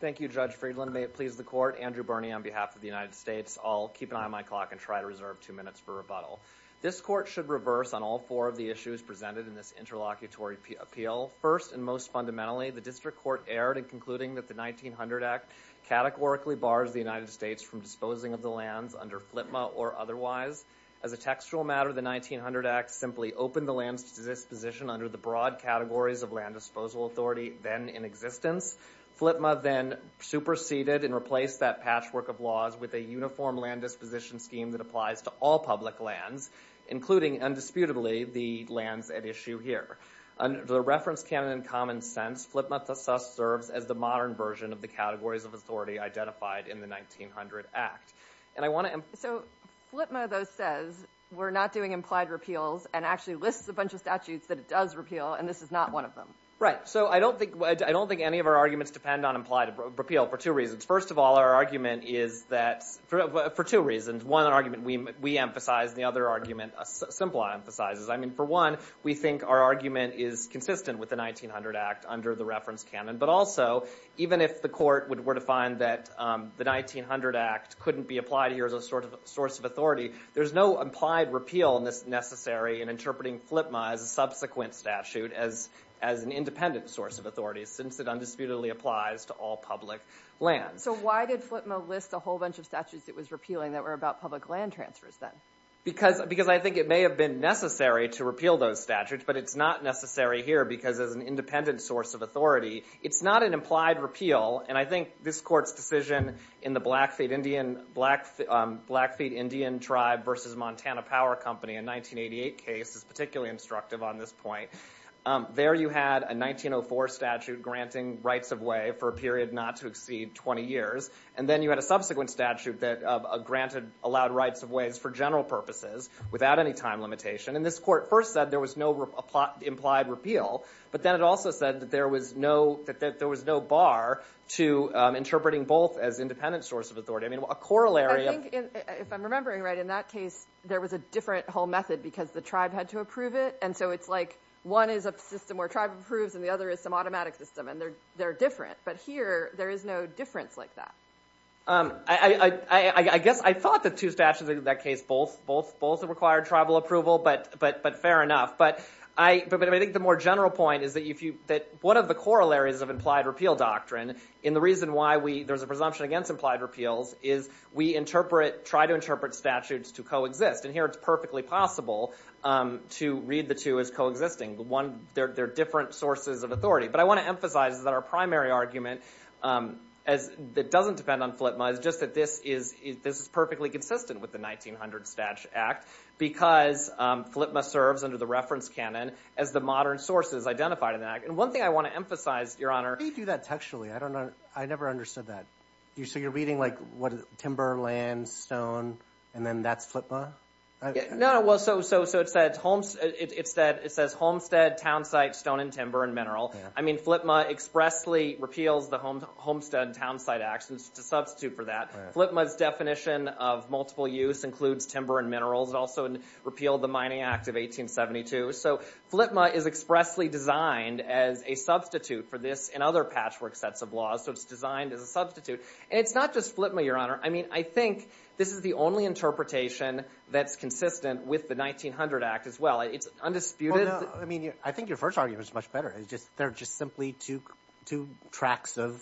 Thank you, Judge Friedland. May it please the court, Andrew Birney on behalf of the United States. I'll keep an eye on my clock and try to reserve two minutes for rebuttal. This court should reverse on all four of the issues presented in this interlocutory appeal. First and most fundamentally, the district court erred in concluding that the 1900 Act categorically bars the United States from disposing of the lands under FLTMA or otherwise. As a textual matter, the 1900 Act simply opened the lands to disposition under the broad categories of land disposal authority then in existence. FLTMA then superseded and replaced that patchwork of laws with a uniform land disposition scheme that applies to all public lands, including, undisputedly, the lands at issue here. Under the reference canon and common sense, FLTMA thus serves as the modern version of the categories of authority identified in the 1900 Act. And I want to- So FLTMA, though, says we're not doing implied repeals and actually lists a bunch of statutes that it does repeal and this is not one of them. Right, so I don't think any of our arguments depend on implied repeal for two reasons. First of all, our argument is that, for two reasons. One argument we emphasize and the other argument Simplot emphasizes. I mean, for one, we think our argument is consistent with the 1900 Act under the reference canon. But also, even if the court were to find that the 1900 Act couldn't be applied here as a source of authority, there's no implied repeal necessary in interpreting FLTMA as a subsequent statute, as an independent source of authority, since it undisputedly applies to all public lands. So why did FLTMA list a whole bunch of statutes it was repealing that were about public land transfers, then? Because I think it may have been necessary to repeal those statutes, but it's not necessary here because, as an independent source of authority, it's not an implied repeal. And I think this Court's decision in the Blackfeet Indian Tribe versus Montana Power Company in 1988 case is particularly instructive on this point. There, you had a 1904 statute granting rights of way for a period not to exceed 20 years, and then you had a subsequent statute that granted allowed rights of ways for general purposes, without any time limitation. And this Court first said there was no implied repeal, but then it also said that there was no bar to interpreting both as independent source of authority. I mean, a corollary of the case, there was a different whole method because the tribe had to approve it. And so it's like, one is a system where tribe approves, and the other is some automatic system. And they're different. But here, there is no difference like that. I guess I thought the two statutes in that case both required tribal approval, but fair enough. But I think the more general point is that one of the corollaries of implied repeal doctrine, and the reason why there's a presumption against implied repeals, is we try to interpret statutes to coexist. And here, it's perfectly possible to read the two as coexisting. They're different sources of authority. But I want to emphasize that our primary argument that doesn't depend on FLTMA is just that this is perfectly consistent with the 1900 Statute Act because FLTMA serves, under the reference canon, as the modern sources identified in the act. And one thing I want to emphasize, Your Honor. How do you do that textually? I never understood that. So you're reading like timber, land, stone, and then that's FLTMA? No, well, so it says homestead, townsite, stone, and timber, and mineral. I mean, FLTMA expressly repeals the homestead and townsite actions to substitute for that. FLTMA's definition of multiple use includes timber and minerals. It also repealed the Mining Act of 1872. So FLTMA is expressly designed as a substitute for this and other patchwork sets of laws. So it's designed as a substitute. And it's not just FLTMA, Your Honor. I mean, I think this is the only interpretation that's consistent with the 1900 Act as well. It's undisputed. I mean, I think your first argument is much better. They're just simply two tracks of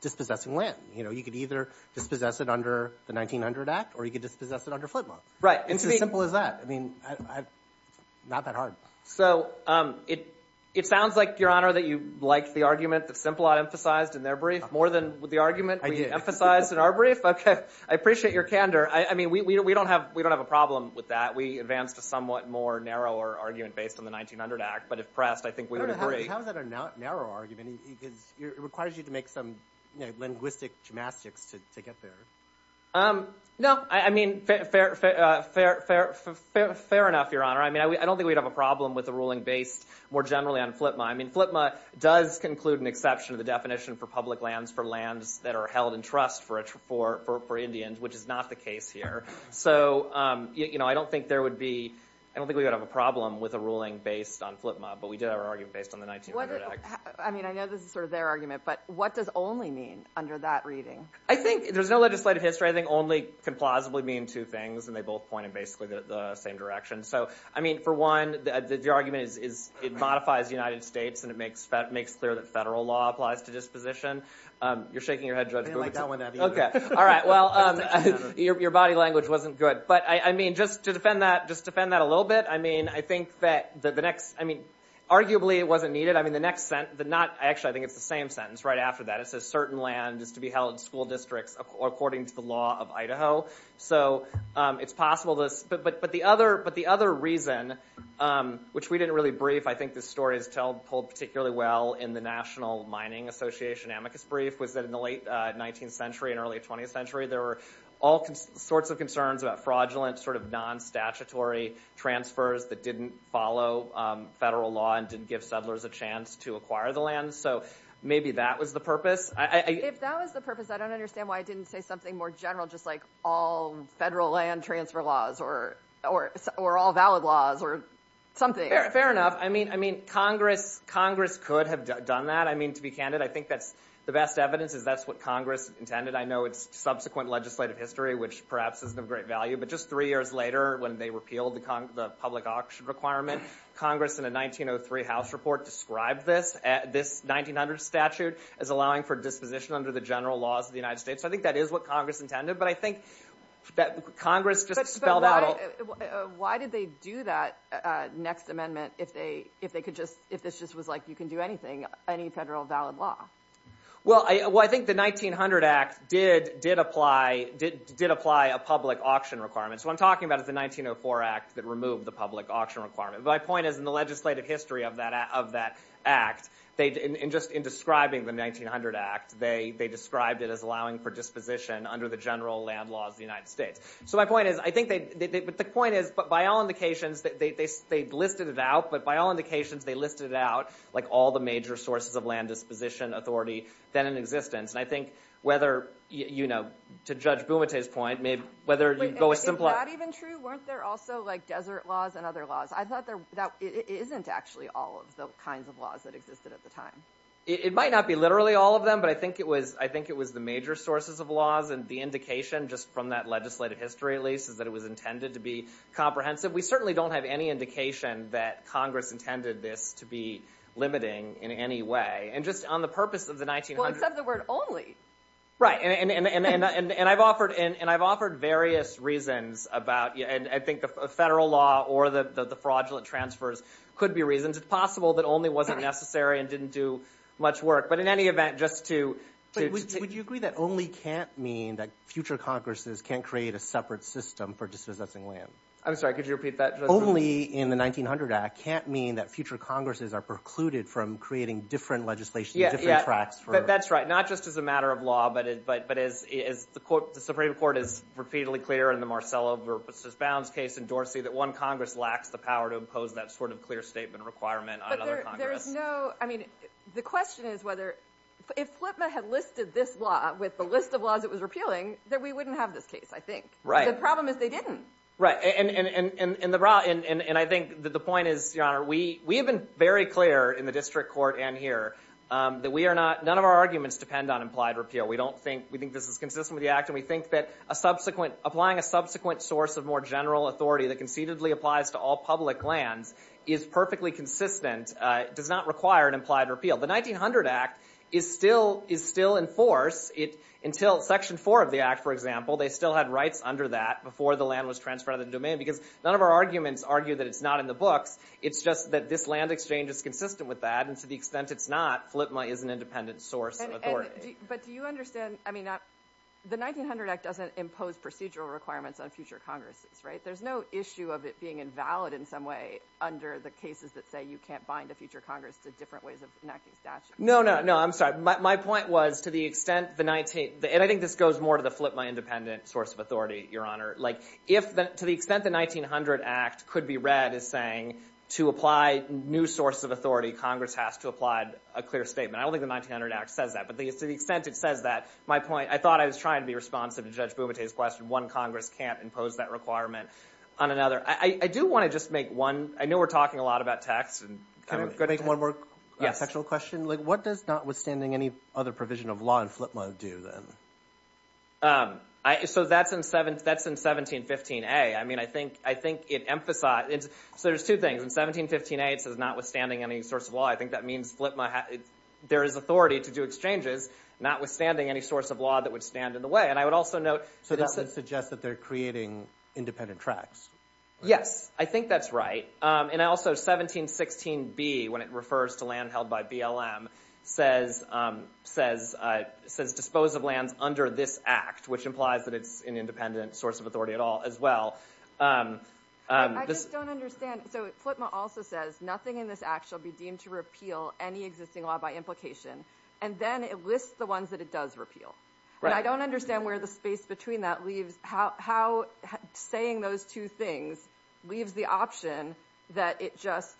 dispossessing land. You could either dispossess it under the 1900 Act, or you could dispossess it under FLTMA. It's as simple as that. I mean, not that hard. So it sounds like, Your Honor, that you like the argument that Simplot emphasized in their brief more than the argument we emphasized in our brief. OK, I appreciate your candor. I mean, we don't have a problem with that. We advanced a somewhat more narrower argument based on the 1900 Act. But if pressed, I think we would agree. How is that a narrow argument? Because it requires you to make some linguistic gymnastics to get there. No, I mean, fair enough, Your Honor. I mean, I don't think we'd have a problem with a ruling based more generally on FLTMA. I mean, FLTMA does conclude an exception to the definition for public lands for lands that are held in trust for Indians, which is not the case here. So I don't think we would have a problem with a ruling based on FLTMA, but we did have an argument based on the 1900 Act. I mean, I know this is sort of their argument, but what does only mean under that reading? I think there's no legislative history. I think only can plausibly mean two things, and they both point in basically the same direction. So I mean, for one, the argument is it modifies the United Applies to Disposition. You're shaking your head, Judge Boone. I didn't like that one either. OK. All right. Well, your body language wasn't good. But I mean, just to defend that a little bit, I mean, I think that the next, I mean, arguably it wasn't needed. I mean, the next sentence, the not, actually, I think it's the same sentence right after that. It says certain land is to be held in school districts according to the law of Idaho. So it's possible this, but the other reason, which we didn't really brief, I think this story is told particularly well in the National Mining Association amicus brief, was that in the late 19th century and early 20th century, there were all sorts of concerns about fraudulent sort of non-statutory transfers that didn't follow federal law and didn't give settlers a chance to acquire the land. So maybe that was the purpose. If that was the purpose, I don't understand why I didn't say something more general, just like all federal land transfer laws or all valid laws or something. Fair enough. I mean, Congress could have done that. I mean, to be candid, I think the best evidence is that's what Congress intended. I know it's subsequent legislative history, which perhaps isn't of great value, but just three years later when they repealed the public auction requirement, Congress, in a 1903 House report, described this 1900 statute as allowing for disposition under the general laws of the United States. So I think that is what Congress intended. But I think that Congress just spelled out. Why did they do that next amendment if this just was like you can do anything, any federal valid law? Well, I think the 1900 Act did apply a public auction requirement. So what I'm talking about is the 1904 Act that removed the public auction requirement. My point is, in the legislative history of that Act, and just in describing the 1900 Act, they described it as allowing for disposition under the general land laws of the United States. So my point is, I think they, the point is, but by all indications, they listed it out. But by all indications, they listed it out, like all the major sources of land disposition authority then in existence. And I think whether, to Judge Bumate's point, maybe whether you go as simple as. Wait, is that even true? Weren't there also like desert laws and other laws? I thought that isn't actually all of the kinds of laws that existed at the time. It might not be literally all of them, but I think it was the major sources of laws and the indication, just from that legislative history at least, is that it was intended to be comprehensive. We certainly don't have any indication that Congress intended this to be limiting in any way. And just on the purpose of the 1900s. Well, except the word only. Right. And I've offered various reasons about, and I think the federal law or the fraudulent transfers could be reasons. It's possible that only wasn't necessary and didn't do much work. But in any event, just to. Would you agree that only can't mean that future Congresses can't create a separate system for dispossessing land? I'm sorry, could you repeat that? Only in the 1900 Act can't mean that future Congresses are precluded from creating different legislation, different tracts for. That's right. Not just as a matter of law, but as the Supreme Court is repeatedly clear in the Marcello versus Bounds case in Dorsey, that one Congress lacks the power to impose that sort of clear statement requirement on another Congress. I mean, the question is whether. If Flipman had listed this law with the list of laws it was repealing, then we wouldn't have this case, I think. The problem is they didn't. Right. And I think that the point is, Your Honor, we have been very clear in the district court and here that none of our arguments depend on implied repeal. We think this is consistent with the Act. And we think that applying a subsequent source of more general authority that concededly applies to all public lands is perfectly consistent, does not require an implied repeal. The 1900 Act is still in force until Section 4 of the Act, for example. They still had rights under that before the land was transferred on the domain. Because none of our arguments argue that it's not in the books. It's just that this land exchange is consistent with that. And to the extent it's not, Flipman is an independent source of authority. But do you understand, I mean, the 1900 Act doesn't impose procedural requirements on future Congresses, right? There's no issue of it being invalid in some way under the cases that say you can't bind a future Congress to different ways of enacting statutes. No, no, no. I'm sorry. My point was, to the extent the 19th, and I think this goes more to the Flipman independent source of authority, Your Honor. Like, to the extent the 1900 Act could be read as saying to apply new source of authority, Congress has to apply a clear statement. I don't think the 1900 Act says that. But to the extent it says that, my point, I thought I was trying to be responsive to Judge Bumate's question. One Congress can't impose that requirement on another. I do want to just make one, I know we're talking a lot about tax. Can I make one more textual question? Like, what does notwithstanding any other provision of law in Flipman do, then? So that's in 1715a. I mean, I think it emphasizes. So there's two things. In 1715a, it says notwithstanding any source of law. I think that means Flipman, there is authority to do exchanges, notwithstanding any source of law that would stand in the way. And I would also note that this is. So that would suggest that they're creating independent tracts. Yes. I think that's right. And also 1716b, when it refers to land held by BLM, says dispose of lands under this act, which implies that it's an independent source of authority at all, as well. I just don't understand. So Flipman also says, nothing in this act shall be deemed to repeal any existing law by implication. And then it lists the ones that it does repeal. And I don't understand where the space between that leaves, how saying those two things leaves the option that it just,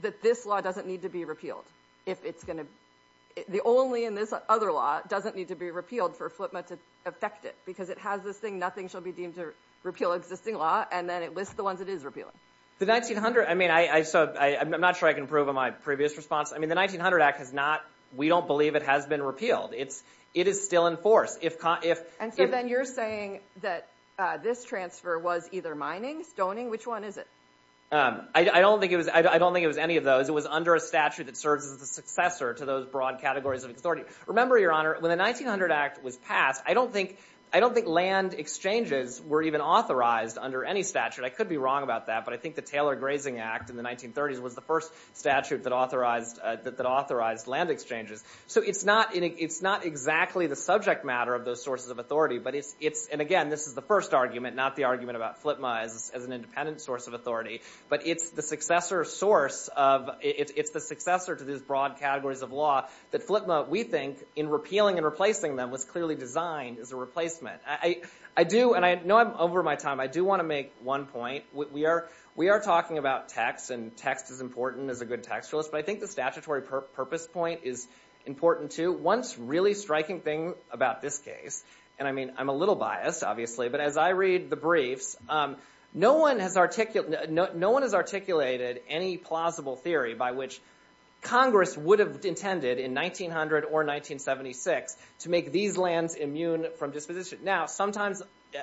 that this law doesn't need to be repealed. If it's going to, the only in this other law doesn't need to be repealed for Flipman to affect it. Because it has this thing, nothing shall be deemed to repeal existing law. And then it lists the ones it is repealing. The 1900, I mean, I'm not sure I can prove on my previous response. I mean, the 1900 Act has not, we don't believe it has been repealed. It is still in force. And so then you're saying that this transfer was either mining, stoning, which one is it? I don't think it was any of those. It was under a statute that serves as the successor to those broad categories of authority. Remember, Your Honor, when the 1900 Act was passed, I don't think land exchanges were even authorized under any statute. I could be wrong about that. But I think the Taylor Grazing Act in the 1930s was the first statute that authorized land exchanges. So it's not exactly the subject matter of those sources of authority. And again, this is the first argument, not the argument about Flipman as an independent source of authority. But it's the successor source of, it's the successor to these broad categories of law that Flipman, we think, in repealing and replacing them was clearly designed as a replacement. I do, and I know I'm over my time, I do want to make one point. We are talking about text. And text is important as a good textualist. But I think the statutory purpose point is important too. One really striking thing about this case, and I'm a little biased, obviously, but as I read the briefs, no one has articulated any plausible theory by which Congress would have intended in 1900 or 1976 to make these lands immune from disposition. Now, sometimes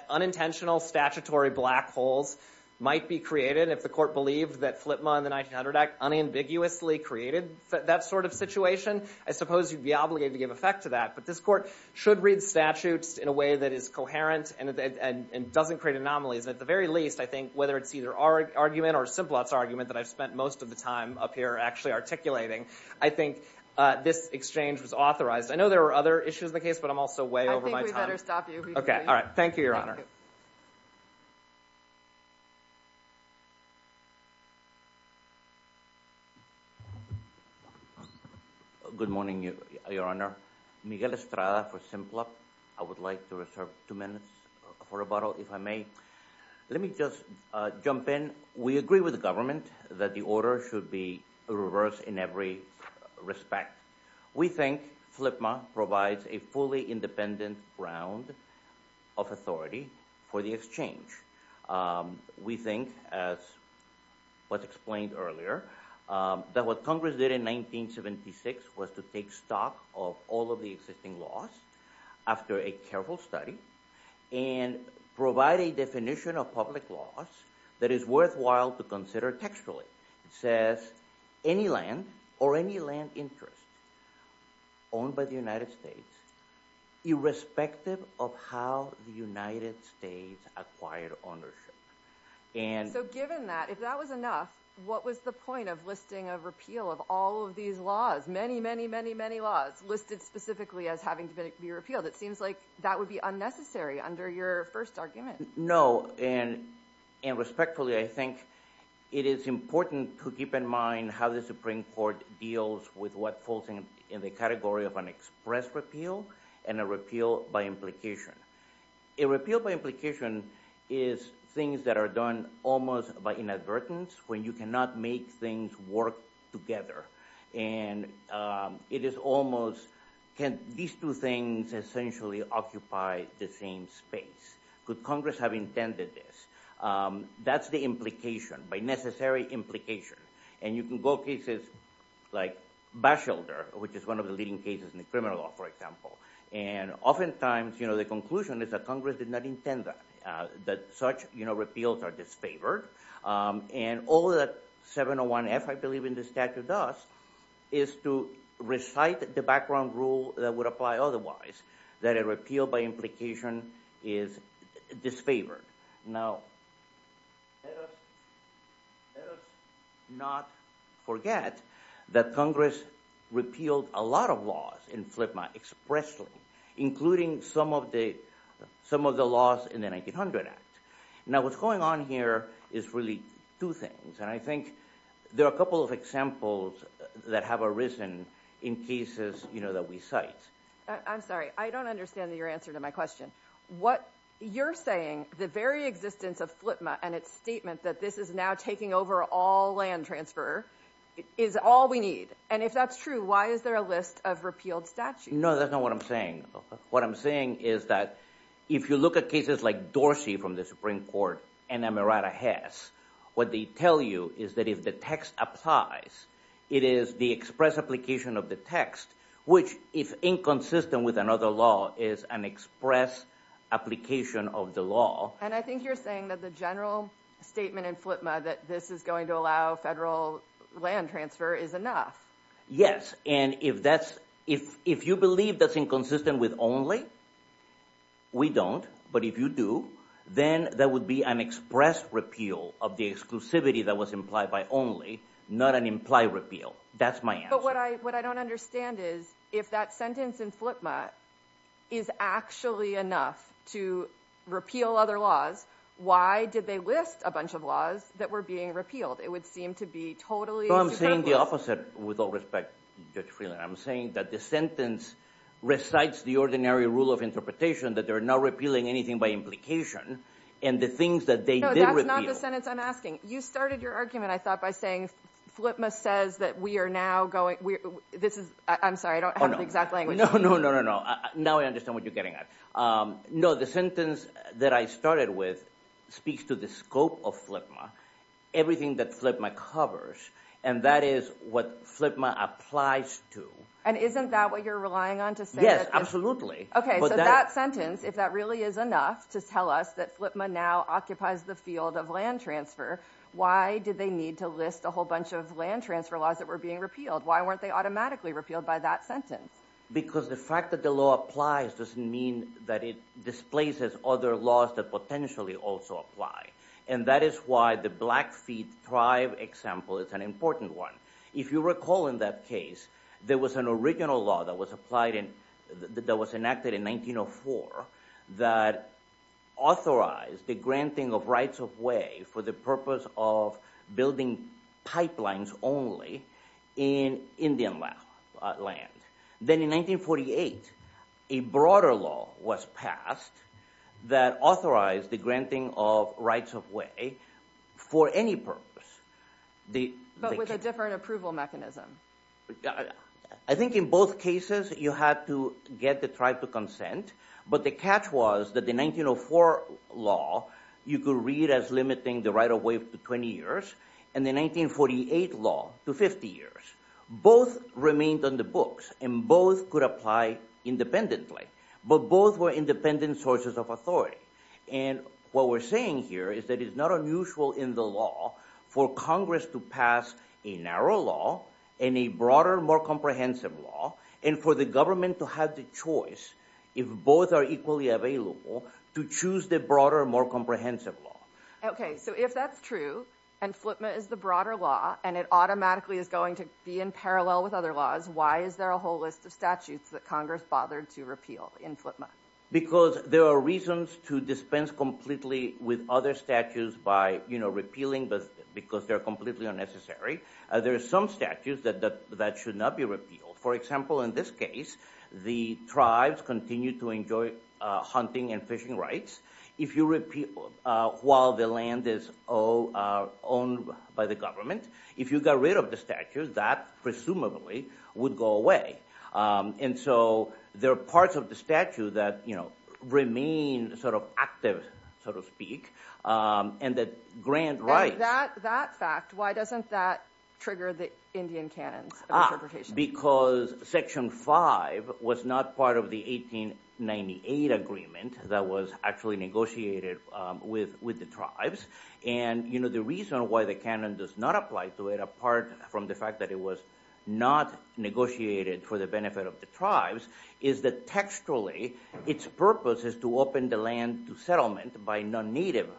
unintentional statutory black holes might be created if the court believed that Flipman and the 1900 Act unambiguously created that sort of situation. I suppose you'd be obligated to give effect to that. But this court should read statutes in a way that is coherent and doesn't create anomalies. At the very least, I think, whether it's either argument or a simple argument that I've spent most of the time up here actually articulating, I think this exchange was authorized. I know there are other issues in the case, but I'm also way over my time. I think we better stop you. OK. All right. Thank you, Your Honor. Thank you. Good morning, Your Honor. Miguel Estrada for Simplot. I would like to reserve two minutes for rebuttal, if I may. Let me just jump in. We agree with the government that the order should be reversed in every respect. We think Flipman provides a fully independent ground of authority for the exchange. We think, as was explained earlier, that what Congress did in 1976 was to take stock of all of the existing laws after a careful study and provide a definition of public laws that is worthwhile to consider textually. It says, any land or any land interest owned by the United States, irrespective of how the United States acquired ownership. So given that, if that was enough, what was the point of listing a repeal of all of these laws? Many, many, many, many laws listed specifically as having to be repealed. It seems like that would be unnecessary under your first argument. No. And respectfully, I think it is important to keep in mind how the Supreme Court deals with what falls in the category of an express repeal and a repeal by implication. A repeal by implication is things that are done almost by inadvertence, when you cannot make things work together. And it is almost, can these two things essentially occupy the same space? Could Congress have intended this? That's the implication, by necessary implication. And you can go cases like Bashelder, which is one of the leading cases in the criminal law, for example. And oftentimes, the conclusion is that Congress did not intend that such repeals are disfavored. And all that 701F, I believe, in the statute does is to recite the background rule that would apply otherwise, that a repeal by implication is disfavored. Now, let us not forget that Congress repealed a lot of laws in FLTMA expressly, including some of the laws in the 1900 Act. Now, what's going on here is really two things. And I think there are a couple of examples that have arisen in cases that we cite. I'm sorry. I don't understand your answer to my question. What you're saying, the very existence of FLTMA and its statement that this is now taking over all land transfer, is all we need. And if that's true, why is there a list of repealed statutes? No, that's not what I'm saying. What I'm saying is that if you look at cases like Dorsey from the Supreme Court and Amirata Hess, what they tell you is that if the text applies, it is the express application of the text, which if inconsistent with another law, is an express application of the law. And I think you're saying that the general statement in FLTMA that this is going to allow federal land transfer is enough. Yes. And if you believe that's inconsistent with only, we don't. But if you do, then that would be an express repeal of the exclusivity that was implied by only, not an implied repeal. That's my answer. But what I don't understand is if that sentence in FLTMA is actually enough to repeal other laws, why did they list a bunch of laws that were being repealed? It would seem to be totally superfluous. No, I'm saying the opposite with all respect, Judge Freeland. I'm saying that the sentence recites the ordinary rule of interpretation that they're not repealing anything by implication. And the things that they did repeal. No, that's not the sentence I'm asking. You started your argument, I thought, by saying FLTMA says that we are now going, this is, I'm sorry, I don't have the exact language. No, no, no, no, no. Now I understand what you're getting at. No, the sentence that I started with speaks to the scope of FLTMA. Everything that FLTMA covers. And that is what FLTMA applies to. And isn't that what you're relying on to say? Yes, absolutely. OK, so that sentence, if that really is enough to tell us that FLTMA now occupies the field of land transfer, why did they need to list a whole bunch of land transfer laws that were being repealed? Why weren't they automatically repealed by that sentence? Because the fact that the law applies doesn't mean that it displaces other laws that potentially also apply. And that is why the Blackfeet tribe example is an important one. If you recall in that case, there was an original law that was enacted in 1904 that authorized the granting of rights of way for the purpose of building pipelines only in Indian land. Then in 1948, a broader law was passed that authorized the granting of rights of way for any purpose. But with a different approval mechanism. I think in both cases, you had to get the tribe to consent. But the catch was that the 1904 law, you could read as limiting the right of way to 20 years. And the 1948 law to 50 years. Both remained on the books. And both could apply independently. But both were independent sources of authority. And what we're saying here is that it's not unusual in the law for Congress to pass a narrow law and a broader, more comprehensive law. And for the government to have the choice, if both are equally available, to choose the broader, more comprehensive law. OK, so if that's true, and FLTMA is the broader law, and it automatically is going to be in parallel with other laws, why is there a whole list of statutes that Congress bothered to repeal in FLTMA? Because there are reasons to dispense completely with other statutes by repealing, because they're completely unnecessary. There are some statutes that should not be repealed. For example, in this case, the tribes continue to enjoy hunting and fishing rights. If you repeal while the land is owned by the government, if you got rid of the statute, that presumably would go away. And so there are parts of the statute that remain active, so to speak, and that grant rights. That fact, why doesn't that trigger the Indian canons of interpretation? Because Section 5 was not part of the 1898 agreement that was actually negotiated with the tribes. And the reason why the canon does not apply to it, apart from the fact that it was not negotiated for the benefit of the tribes, is that textually, its purpose is to open the land to settlement by non-native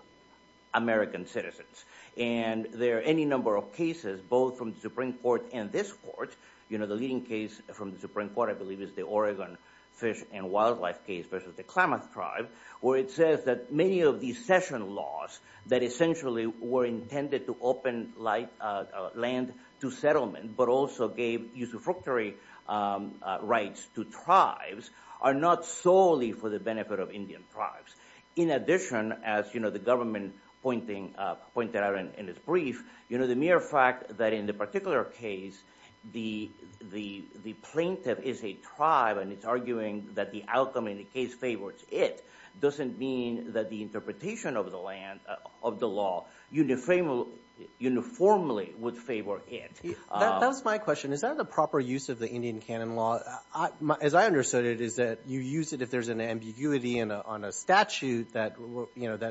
American citizens. And there are any number of cases, both from the Supreme Court and this court. The leading case from the Supreme Court, I believe, is the Oregon fish and wildlife case versus the Klamath tribe, where it says that many of these session laws that essentially were intended to open land to settlement, but also gave usufructory rights to tribes, are not solely for the benefit of Indian tribes. In addition, as the government pointed out in its brief, the mere fact that in the particular case, the plaintiff is a tribe, and it's arguing that the outcome in the case favors it, doesn't mean that the interpretation of the law uniformly would favor it. That was my question. Is that the proper use of the Indian canon law? As I understood it, is that you use it if there's an ambiguity on a statute that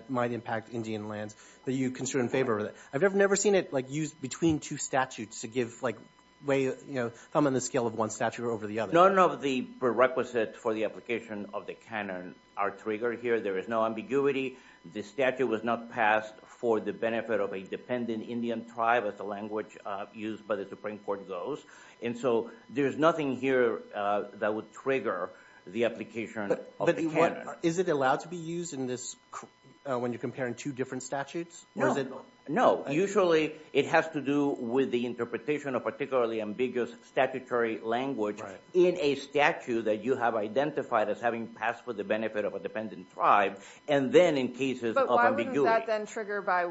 might impact Indian lands, that you consider in favor of it. I've never seen it used between two statutes to give way, if I'm on the scale of one statute over the other. None of the prerequisites for the application of the canon are triggered here. There is no ambiguity. The statute was not passed for the benefit of a dependent Indian tribe, as the language used by the Supreme Court goes. And so there is nothing here that would trigger the application of the canon. Is it allowed to be used when you're comparing two different statutes? No, usually it has to do with the interpretation of particularly ambiguous statutory language in a statute that you have identified as having passed for the benefit of a dependent tribe. And then in cases of ambiguity. But why wouldn't that then trigger by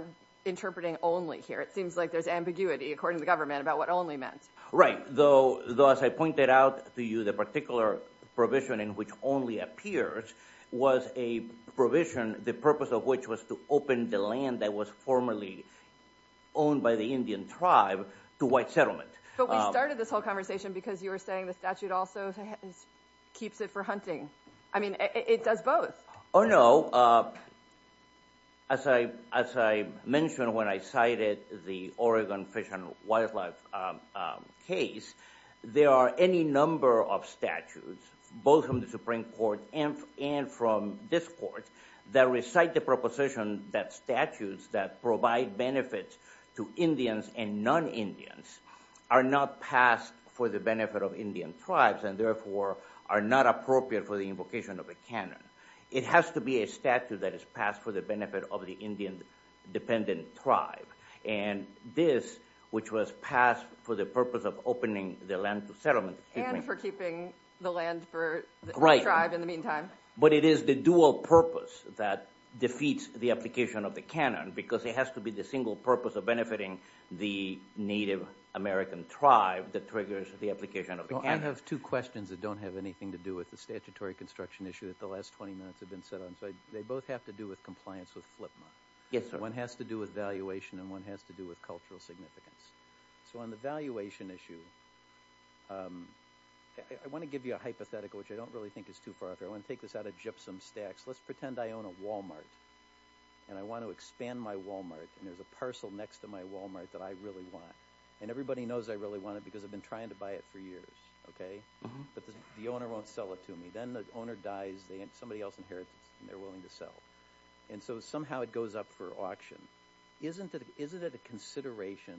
interpreting only here? It seems like there's ambiguity, according to government, about what only meant. Right, though as I pointed out to you, the particular provision in which only appears was a provision, the purpose of which was to open the land that was formerly owned by the Indian tribe to white settlement. But we started this whole conversation because you were saying the statute also keeps it for hunting. I mean, it does both. No, as I mentioned when I cited the Oregon Fish and Wildlife case, there are any number of statutes, both from the Supreme Court and from this court, that recite the proposition that statutes that provide benefits to Indians and non-Indians are not passed for the benefit of Indian tribes, and therefore are not appropriate for the invocation of a canon. It has to be a statute that is passed for the benefit of the Indian dependent tribe. And this, which was passed for the purpose of opening the land to settlement. And for keeping the land for the tribe in the meantime. But it is the dual purpose that defeats the application of the canon, because it has to be the single purpose of benefiting the Native American tribe that triggers the application of the canon. I have two questions that don't have anything to do with the statutory construction issue that the last 20 minutes have been set on. They both have to do with compliance with FLIPMA. One has to do with valuation, and one has to do with cultural significance. So on the valuation issue, I want to give you a hypothetical, which I don't really think is too far off. I want to take this out of gypsum stacks. Let's pretend I own a Walmart. And I want to expand my Walmart, and there's a parcel next to my Walmart that I really want. And everybody knows I really want it, because I've been trying to buy it for years. But the owner won't sell it to me. Then the owner dies, and somebody else inherits it, and they're willing to sell. And so somehow it goes up for auction. Isn't it a consideration,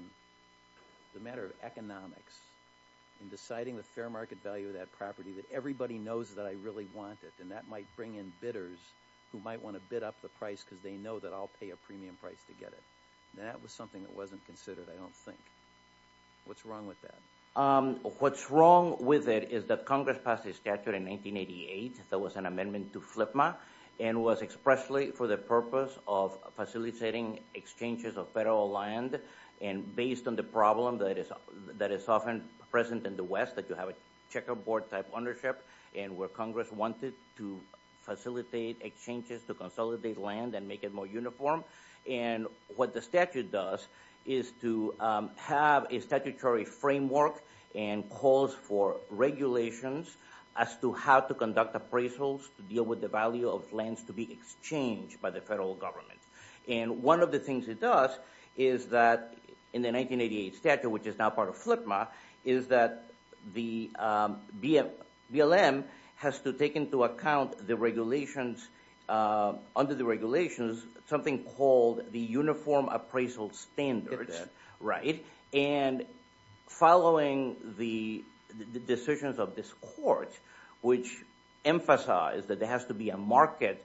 as a matter of economics, in deciding the fair market value of that property, that everybody knows that I really want it? And that might bring in bidders who might want to bid up the price, because they know that I'll pay a premium price to get it. That was something that wasn't considered, I don't think. What's wrong with that? What's wrong with it is that Congress passed a statute in 1988 that was an amendment to FLIPMA, and was expressly for the purpose of facilitating exchanges of federal land. And based on the problem that is often present in the West, that you have a checkerboard type ownership, and where Congress wanted to facilitate exchanges to consolidate land and make it more uniform. And what the statute does is to have a statutory framework and calls for regulations as to how to conduct appraisals to deal with the value of lands to be exchanged by the federal government. And one of the things it does is that in the 1988 statute, which is now part of FLIPMA, is that the BLM has to take into account the regulations, under the regulations, something called the Uniform Appraisal Standards. Right. And following the decisions of this court, which emphasize that there has to be a market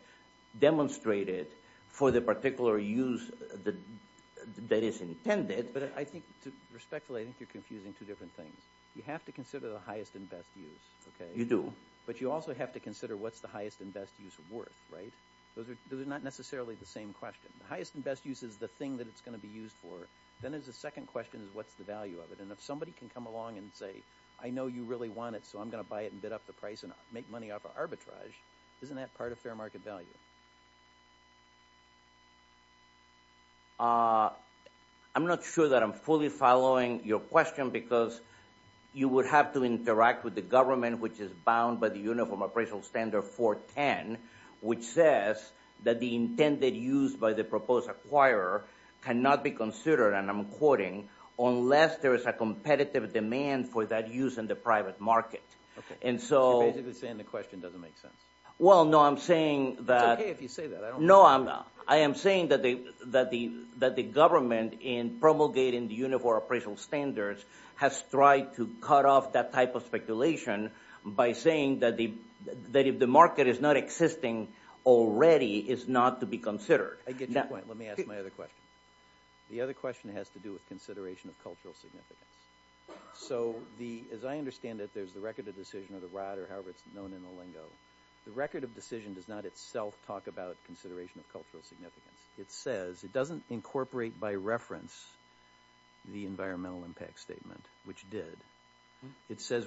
demonstrated for the particular use that is intended. But I think, respectfully, I think you're confusing two different things. You have to consider the highest and best use. You do. But you also have to consider what's the highest and best use worth, right? Those are not necessarily the same question. Highest and best use is the thing that it's going to be used for. Then there's a second question is, what's the value of it? And if somebody can come along and say, I know you really want it, so I'm going to buy it and bid up the price and make money off of arbitrage, isn't that part of fair market value? I'm not sure that I'm fully following your question, because you would have to interact with the government, which is bound by the Uniform Appraisal Standard 410, which says that the intended use by the proposed acquirer cannot be considered, and I'm quoting, unless there is a competitive demand for that use in the private market. And so you're basically saying the question doesn't make sense. Well, no, I'm saying that the government, in promulgating the Uniform Appraisal Standards, has tried to cut off that type of speculation by saying that if the market is not existing already, it's not to be considered. I get your point. Let me ask my other question. The other question has to do with consideration of cultural significance. So as I understand it, there's the record of decision, or the rod, or however it's known in the lingo. The record of decision does not itself talk about consideration of cultural significance. It says, it doesn't incorporate by reference the environmental impact statement, which did. It says,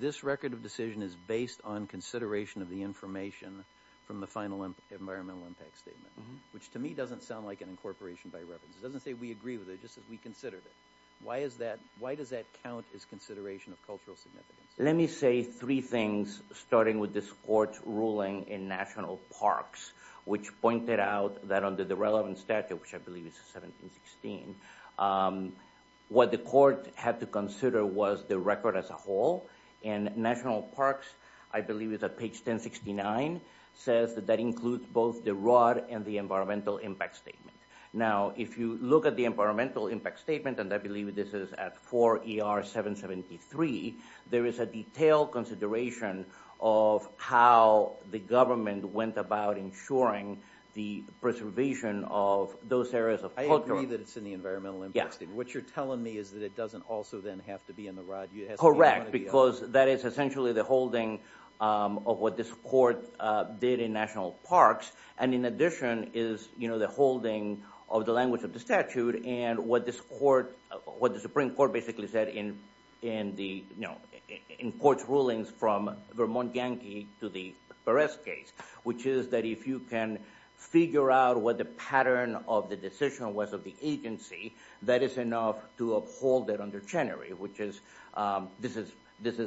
this record of decision is based on consideration of the information from the final environmental impact statement, which to me doesn't sound like an incorporation by reference. It doesn't say we agree with it, just as we considered it. Why does that count as consideration of cultural significance? Let me say three things, starting with this court's ruling in National Parks, which pointed out that under the relevant statute, which I believe is 1716, what the court had to consider was the record as a whole. And National Parks, I believe it's at page 1069, says that that includes both the rod and the environmental impact statement. Now, if you look at the environmental impact statement, and I believe this is at 4 ER 773, there is a detailed consideration of how the government went about ensuring the preservation of those areas of culture. I agree that it's in the environmental impact statement. What you're telling me is that it doesn't also then have to be in the rod. Correct, because that is essentially the holding of what this court did in National Parks. And in addition is the holding of the language of the statute and what the Supreme Court basically said in court's rulings from Vermont Yankee to the Perez case, which is that if you can figure out what the pattern of the decision was of the agency, that is enough to uphold it under Chenery, which is this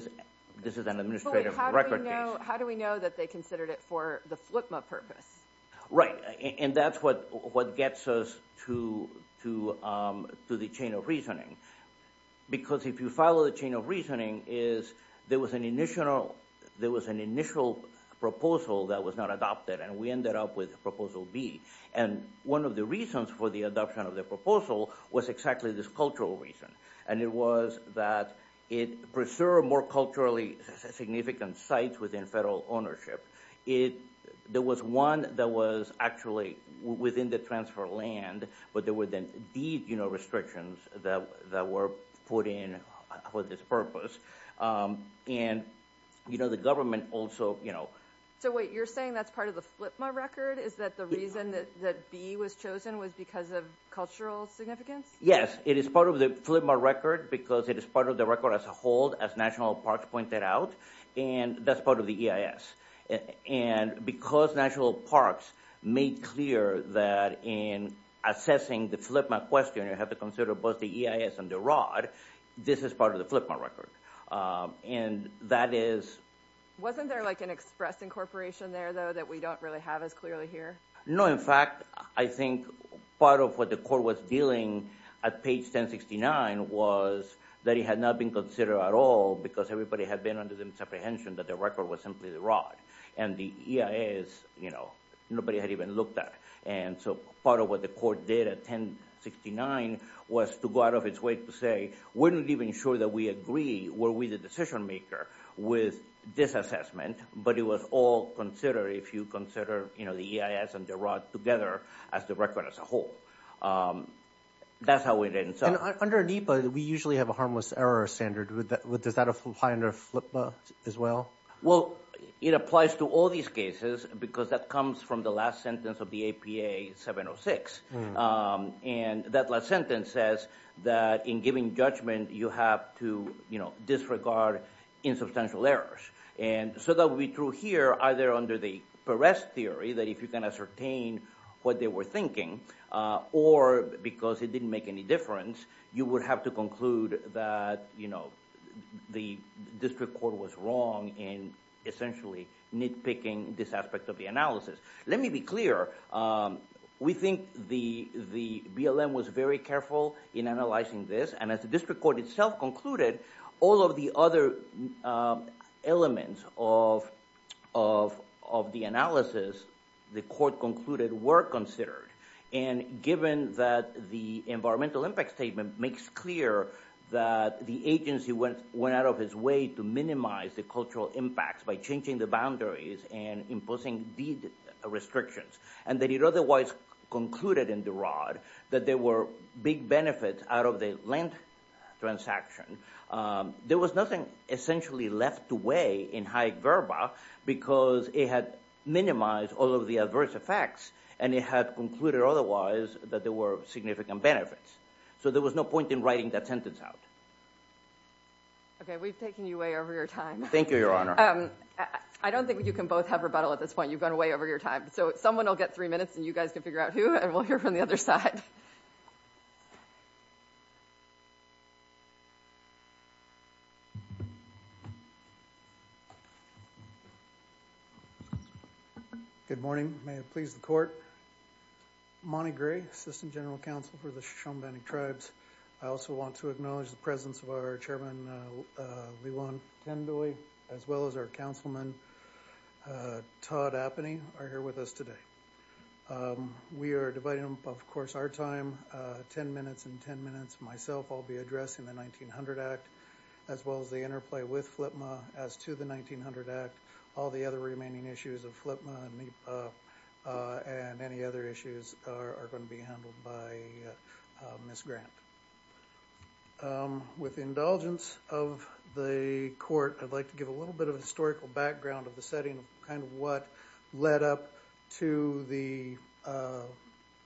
is an administrative record case. How do we know that they considered it for the FLCMA purpose? Right, and that's what gets us to the chain of reasoning. Because if you follow the chain of reasoning, there was an initial proposal that was not adopted, and we ended up with Proposal B. And one of the reasons for the adoption of the proposal was exactly this cultural reason. And it was that it preserved more culturally significant sites within federal ownership. There was one that was actually within the transfer of land, but there were then these restrictions that were put in for this purpose. And the government also, you know. So wait, you're saying that's part of the FLCMA record? Is that the reason that B was chosen was because of cultural significance? Yes, it is part of the FLCMA record because it is part of the record as a whole, as National Parks pointed out. And that's part of the EIS. And because National Parks made clear that in assessing the FLCMA question, you have to consider both the EIS and the ROD, this is part of the FLCMA record. And that is. Wasn't there like an express incorporation there, though, that we don't really have as clearly here? No, in fact, I think part of what the court was dealing at page 1069 was that it had not been considered at all because everybody had been under the misapprehension that the record was simply the ROD. And the EIS, you know, nobody had even looked at. And so part of what the court did at 1069 was to go out of its way to say, we're not even sure that we agree, were we the decision maker with this assessment, but it was all considered if you consider, you know, the EIS and the ROD together as the record as a whole. That's how it ends up. And under NEPA, we usually have a harmless error standard. Does that apply under FLCMA as well? Well, it applies to all these cases because that comes from the last sentence of the APA 706. And that last sentence says that in giving judgment, you have to, you know, disregard insubstantial errors. And so that will be true here, either under the Perez theory, that if you can ascertain what they were thinking, or because it didn't make any difference, you would have to conclude that, you know, the district court was wrong in essentially nitpicking this aspect of the analysis. Let me be clear. We think the BLM was very careful in analyzing this. And as the district court itself concluded, all of the other elements of the analysis the court concluded were considered. And given that the environmental impact statement makes clear that the agency went out of its way to minimize the cultural impacts by changing the boundaries and imposing deed restrictions, and that it otherwise concluded in the ROD that there were big benefits out of the land transaction, there was nothing essentially left to weigh in high verba because it had minimized all of the adverse effects and it had concluded otherwise that there were significant benefits. So there was no point in writing that sentence out. Okay, we've taken you way over your time. Thank you, Your Honor. I don't think you can both have rebuttal at this point. You've gone way over your time. So someone will get three minutes and you guys can figure out who, and we'll hear from the other side. Good morning. May it please the court. Monty Gray, Assistant General Counsel for the Shoshone-Bannock Tribes. I also want to acknowledge the presence of our Chairman Lee-Wan Kendoy, as well as our Councilman Todd Appeny are here with us today. We are dividing up, of course, our time, 10 minutes and 10 minutes myself I'll be addressing the 1900 Act, as well as the interplay with FLIPMA as to the 1900 Act. All the other remaining issues of FLIPMA and any other issues are gonna be handled by Ms. Grant. With indulgence of the court, I'd like to give a little bit of a historical background of the setting of kind of what led up to the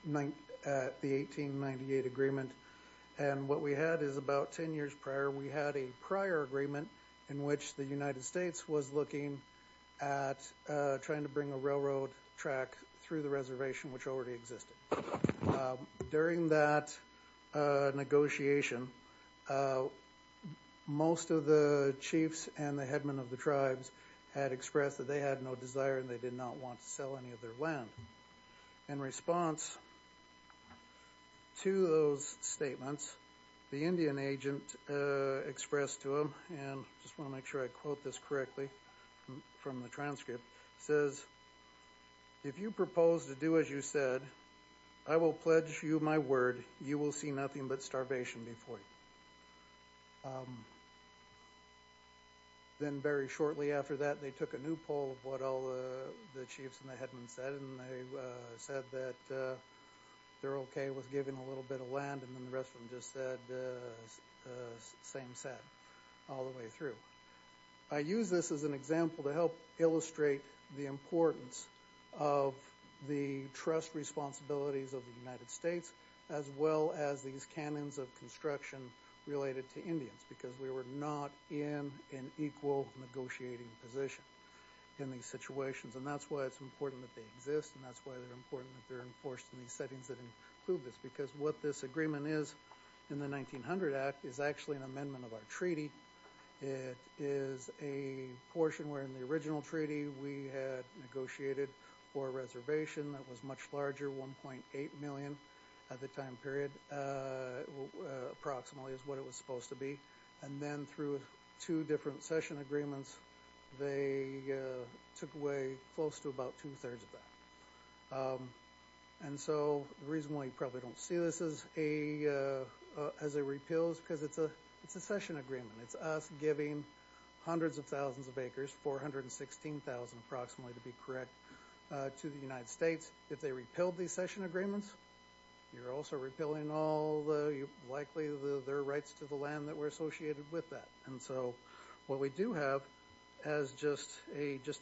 1898 agreement. And what we had is about 10 years prior, we had a prior agreement in which the United States was looking at trying to bring a railroad track through the reservation, which already existed. During that negotiation, most of the chiefs and the headmen of the tribes had expressed that they had no desire and they did not want to sell any of their land. In response to those statements, the Indian agent expressed to them, and just wanna make sure I quote this correctly from the transcript, says, if you propose to do as you said, I will pledge you my word, you will see nothing but starvation before you. Then very shortly after that, they took a new poll of what all the chiefs and the headmen said, and they said that they're okay with giving a little bit of land and then the rest of them just said, same set all the way through. I use this as an example to help illustrate the importance of the trust responsibilities of the United States, as well as these canons of construction related to Indians because we were not in an equal negotiating position in these situations. And that's why it's important that they exist and that's why they're important that they're enforced in these settings that include this because what this agreement is in the 1900 Act is actually an amendment of our treaty. It is a portion where in the original treaty we had negotiated for a reservation that was much larger 1.8 million at the time period approximately is what it was supposed to be. And then through two different session agreements, they took away close to about two thirds of that. And so the reason why you probably don't see this as a repeals because it's a session agreement. It's us giving hundreds of thousands of acres, 416,000 approximately to be correct to the United States. If they repealed these session agreements, you're also repealing all the likely their rights to the land that were associated with that. And so what we do have as just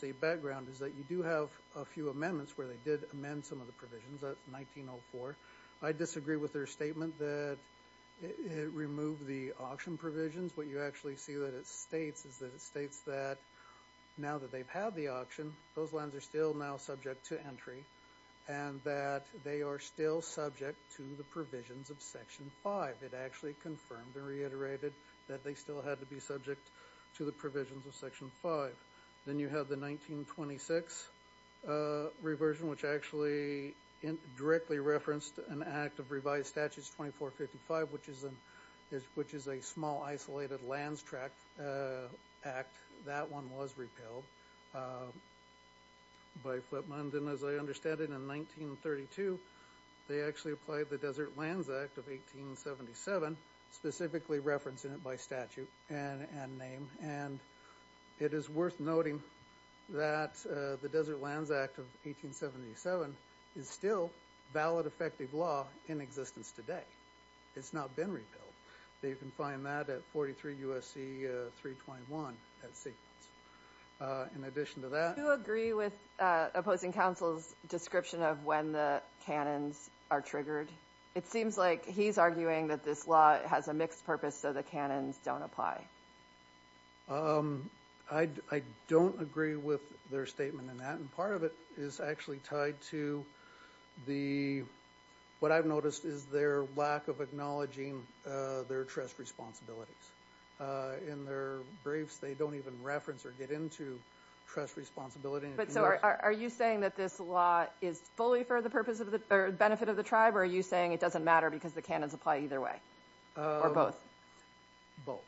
a background is that you do have a few amendments where they did amend some of the provisions of 1904. I disagree with their statement that it removed the auction provisions. What you actually see that it states is that it states that now that they've had the auction, those lands are still now subject to entry and that they are still subject to the provisions of section five. It actually confirmed and reiterated that they still had to be subject to the provisions of section five. Then you have the 1926 reversion, which actually directly referenced an act of revised statutes 2455, which is a small isolated lands tract act. That one was repealed by Flipmund. And as I understand it in 1932, they actually applied the Desert Lands Act of 1877, specifically referencing it by statute and name. And it is worth noting that the Desert Lands Act of 1877 is still valid effective law in existence today. It's not been repealed. They can find that at 43 USC 321 at sequence. In addition to that- Do you agree with opposing counsel's description of when the canons are triggered? It seems like he's arguing that this law has a mixed purpose so the canons don't apply. I don't agree with their statement in that. And part of it is actually tied to the, what I've noticed is their lack of acknowledging their trust responsibilities. In their briefs, they don't even reference or get into trust responsibility. But so are you saying that this law is fully for the purpose of the benefit of the tribe or are you saying it doesn't matter because the canons apply either way or both? Both.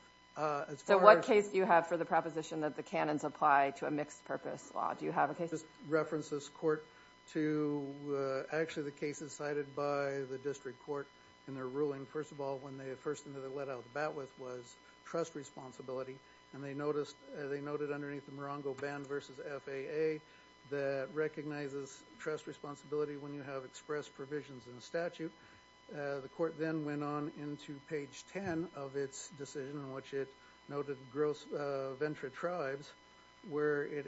So what case do you have for the proposition that the canons apply to a mixed purpose law? Do you have a case? This references court to actually the cases cited by the district court in their ruling. First of all, when the first thing that they let out the bat with was trust responsibility. And they noted underneath the Morongo Band versus FAA that recognizes trust responsibility when you have expressed provisions in the statute. The court then went on into page 10 of its decision in which it noted gross venture tribes where it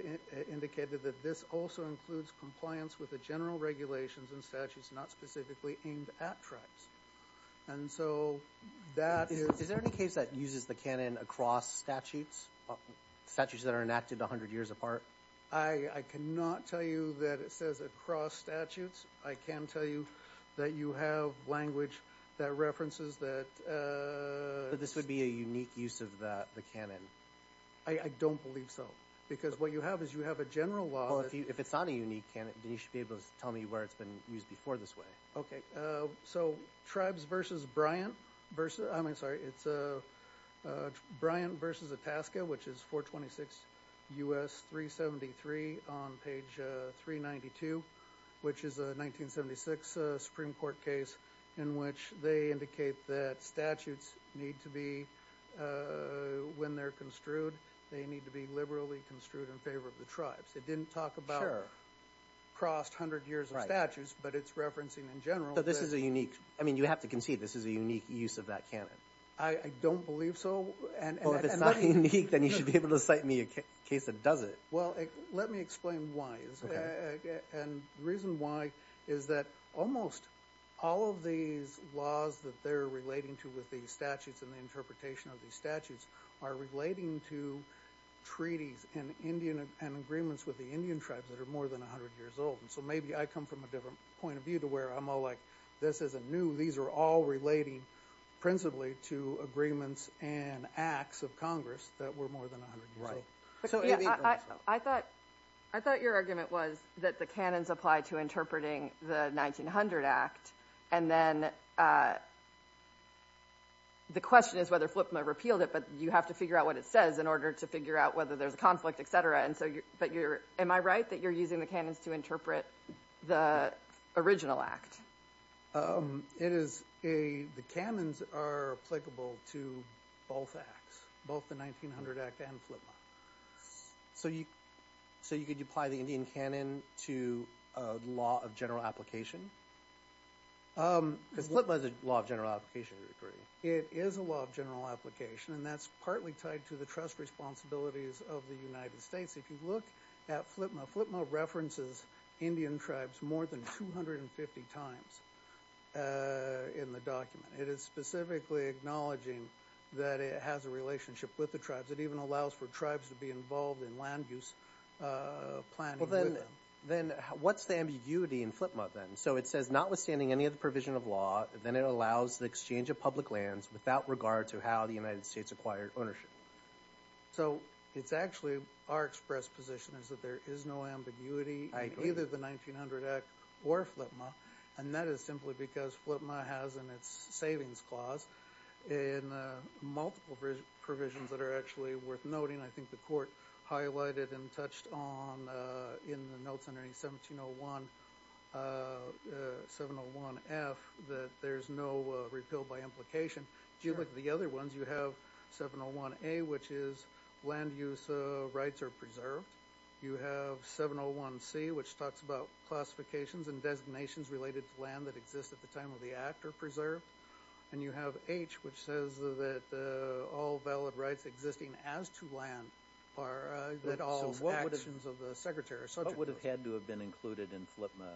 indicated that this also includes compliance with the general regulations and statutes not specifically aimed at tribes. And so that is. Is there any case that uses the canon across statutes? Statutes that are enacted 100 years apart? I cannot tell you that it says across statutes. I can tell you that you have language that references that. But this would be a unique use of the canon? I don't believe so. Because what you have is you have a general law. If it's on a unique canon, then you should be able to tell me where it's been used before this way. Okay, so tribes versus Bryant versus, I'm sorry, it's Bryant versus Itasca, which is 426 U.S. 373 on page 392, which is a 1976 Supreme Court case in which they indicate that statutes need to be, when they're construed, they need to be liberally construed in favor of the tribes. It didn't talk about crossed 100 years of statutes, but it's referencing in general. But this is a unique, I mean, you have to concede this is a unique use of that canon. I don't believe so. Well, if it's not unique, then you should be able to cite me a case that does it. Well, let me explain why. And the reason why is that almost all of these laws that they're relating to with these statutes and the interpretation of these statutes are relating to treaties and agreements with the Indian tribes that are more than 100 years old. And so maybe I come from a different point of view to where I'm all like, this isn't new. These are all relating principally to agreements and acts of Congress that were more than 100 years old. I thought your argument was that the canons apply to interpreting the 1900 Act. And then the question is whether Flipna repealed it, but you have to figure out what it says in order to figure out whether there's a conflict, et cetera. But am I right that you're using the canons to interpret the original Act? It is, the canons are applicable to both Acts, both the 1900 Act and Flipna. So could you apply the Indian canon to a law of general application? Because Flipna is a law of general application, I agree. It is a law of general application, and that's partly tied to the trust responsibilities of the United States. If you look at Flipna, Flipna references Indian tribes more than 250 times in the document. It is specifically acknowledging that it has a relationship with the tribes. It even allows for tribes to be involved in land use planning with them. Then what's the ambiguity in Flipna then? So it says, notwithstanding any of the provision of law, then it allows the exchange of public lands without regard to how the United States acquired ownership. So it's actually, our express position is that there is no ambiguity in either the 1900 Act or Flipna, and that is simply because Flipna has in its savings clause in multiple provisions that are actually worth noting. I think the court highlighted and touched on in the notes under 1701, 701F, that there's no repeal by implication. Do you look at the other ones? You have 701A, which is land use rights are preserved. You have 701C, which talks about classifications and designations related to land that exists at the time of the act are preserved. And you have H, which says that all valid rights existing as to land are at all actions of the Secretary or subject to it. What would have had to have been included in Flipna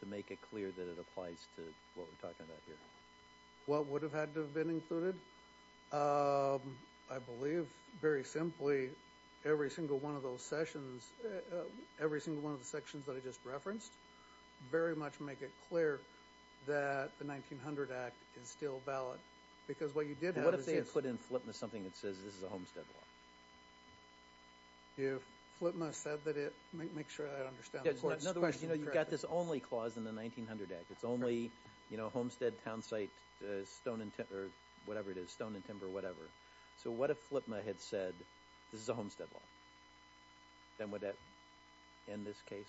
to make it clear that it applies to what we're talking about here? What would have had to have been included? I believe, very simply, every single one of those sessions, every single one of the sections that I just referenced very much make it clear that the 1900 Act is still valid because what you did have is this. What if they had put in Flipna something that says this is a homestead law? If Flipna said that it, make sure I understand the question. In other words, you've got this only clause in the 1900 Act. It's only homestead, town site, stone and timber, whatever it is, stone and timber, whatever. So what if Flipna had said this is a homestead law? Then would that end this case?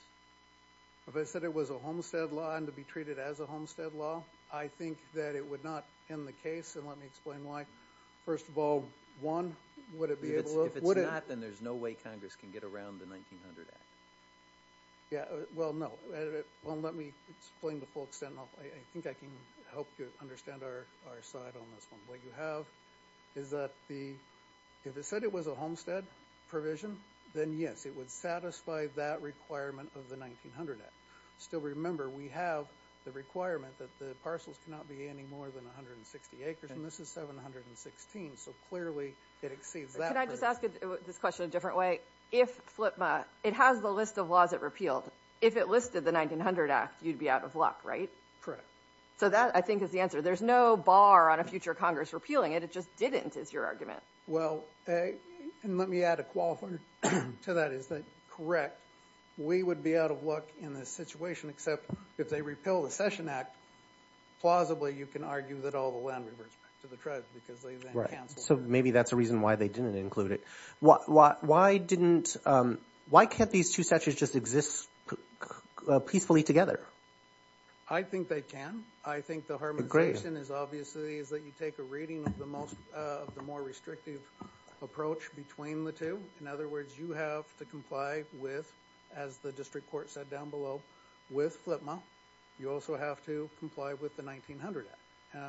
If it said it was a homestead law and to be treated as a homestead law, I think that it would not end the case. And let me explain why. First of all, one, would it be able to, would it? If it's not, then there's no way Congress can get around the 1900 Act. Yeah, well, no. Well, let me explain the full extent. I think I can help you understand our side on this one. What you have is that the, if it said it was a homestead provision, then yes, it would satisfy that requirement of the 1900 Act. Still remember, we have the requirement that the parcels cannot be any more than 160 acres, and this is 716, so clearly it exceeds that. Can I just ask this question a different way? If Flipna, it has the list of laws it repealed. If it listed the 1900 Act, you'd be out of luck, right? Correct. So that, I think, is the answer. There's no bar on a future Congress repealing it. It just didn't, is your argument. Well, and let me add a qualifier to that, is that, correct, we would be out of luck in this situation, except if they repeal the Cession Act, plausibly, you can argue that all the land reverts back to the tribes, because they then cancel. So maybe that's a reason why they didn't include it. Why didn't, why can't these two statutes just exist peacefully together? I think they can. I think the harmonization is, obviously, is that you take a reading of the more restrictive approach between the two. In other words, you have to comply with, as the district court said down below, with Flipna. You also have to comply with the 1900 Act.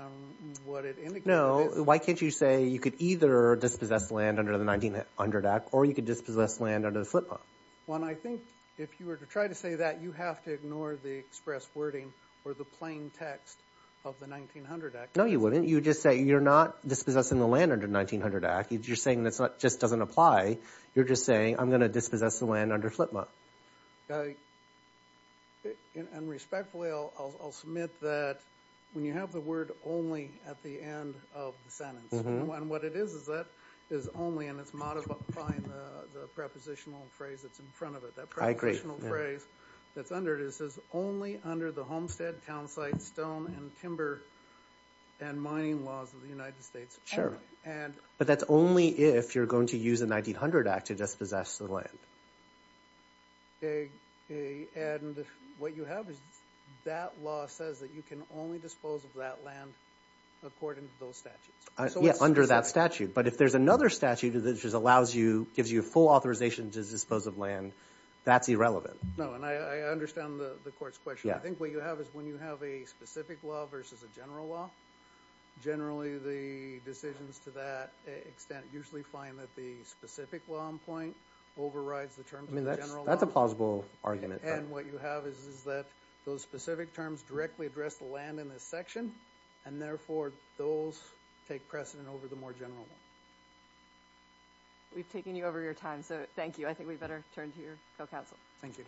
What it indicates is- No, why can't you say you could either dispossess land under the 1900 Act, or you could dispossess land under the Flipna? Well, and I think, if you were to try to say that, you have to ignore the express wording, or the plain text of the 1900 Act. No, you wouldn't. You would just say, you're not dispossessing the land under the 1900 Act. You're saying that just doesn't apply. You're just saying, I'm gonna dispossess the land under Flipna. And respectfully, I'll submit that, when you have the word only at the end of the sentence, and what it is, is that is only, and it's modifying the prepositional phrase that's in front of it. That prepositional phrase that's under it, it says, only under the homestead, townsite, stone, and timber, and mining laws of the United States. Sure. But that's only if you're going to use the 1900 Act to dispossess the land. And what you have is that law says that you can only dispose of that land according to those statutes. Yeah, under that statute. But if there's another statute that just allows you, gives you full authorization to dispose of land, that's irrelevant. No, and I understand the court's question. I think what you have is, when you have a specific law versus a general law, generally, the decisions to that extent usually find that the specific law in point overrides the terms of the general law. That's a plausible argument. And what you have is that those specific terms directly address the land in this section, and therefore, those take precedent over the more general law. We've taken you over your time, so thank you. I think we better turn to your co-counsel. Thank you.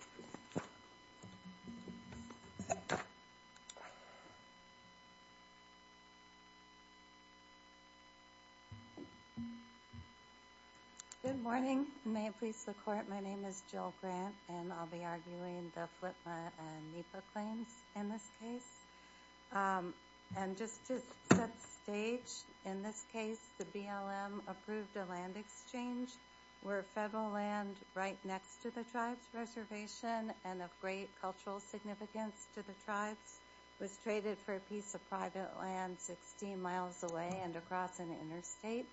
Thank you. Good morning. May it please the court, my name is Jill Grant, and I'll be arguing the FLTMA and NEPA claims in this case. And just to set the stage, in this case, the BLM approved a land exchange where federal land right next to the tribe's reservation and of great cultural significance to the tribes was traded for a piece of private land 16 miles away and across an interstate.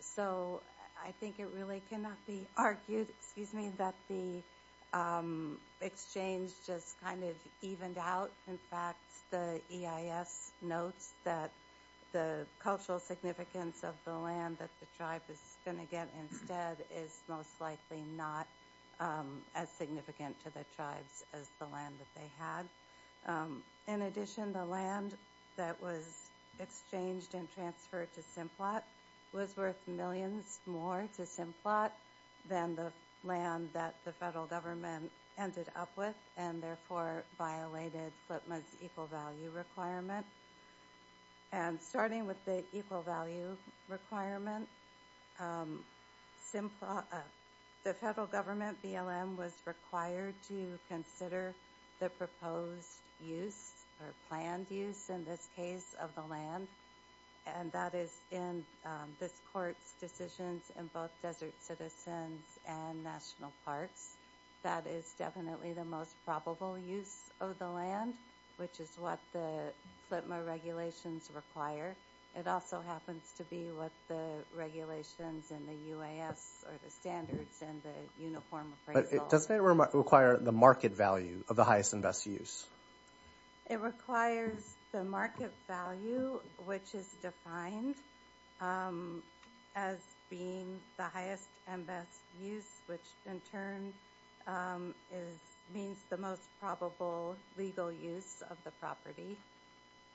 So I think it really cannot be argued, excuse me, that the exchange just kind of evened out. In fact, the EIS notes that the cultural significance of the land that the tribe is gonna get instead is most likely not as significant to the tribes as the land that they had. In addition, the land that was exchanged and transferred to Simplot was worth millions more to Simplot than the land that the federal government ended up with, and therefore, violated FLTMA's equal value requirement. And starting with the equal value requirement, the federal government, BLM, was required to consider the proposed use, or planned use, in this case, of the land, and that is in this court's decisions in both desert citizens and national parks. That is definitely the most probable use of the land, which is what the FLTMA regulations require. It also happens to be what the regulations and the UAS, or the standards, and the uniform appraisal. But doesn't it require the market value of the highest and best use? It requires the market value, which is defined as being the highest and best use, which in turn means the most probable legal use of the property.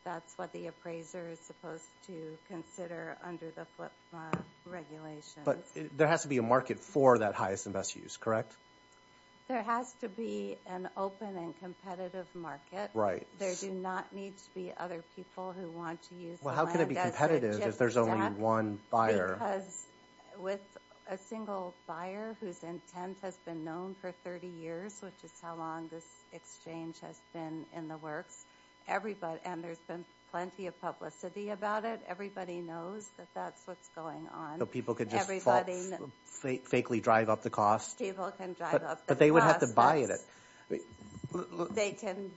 That's what the appraiser is supposed to consider under the FLTMA regulations. But there has to be a market for that highest and best use, correct? There has to be an open and competitive market. There do not need to be other people who want to use the land as a gift stack. Well, how can it be competitive if there's only one buyer? Because with a single buyer whose intent has been known for 30 years, which is how long this exchange has been in the works, and there's been plenty of publicity about it, everybody knows that that's what's going on. So people could just falsely drive up the cost. People can drive up the cost. But they would have to buy it. They can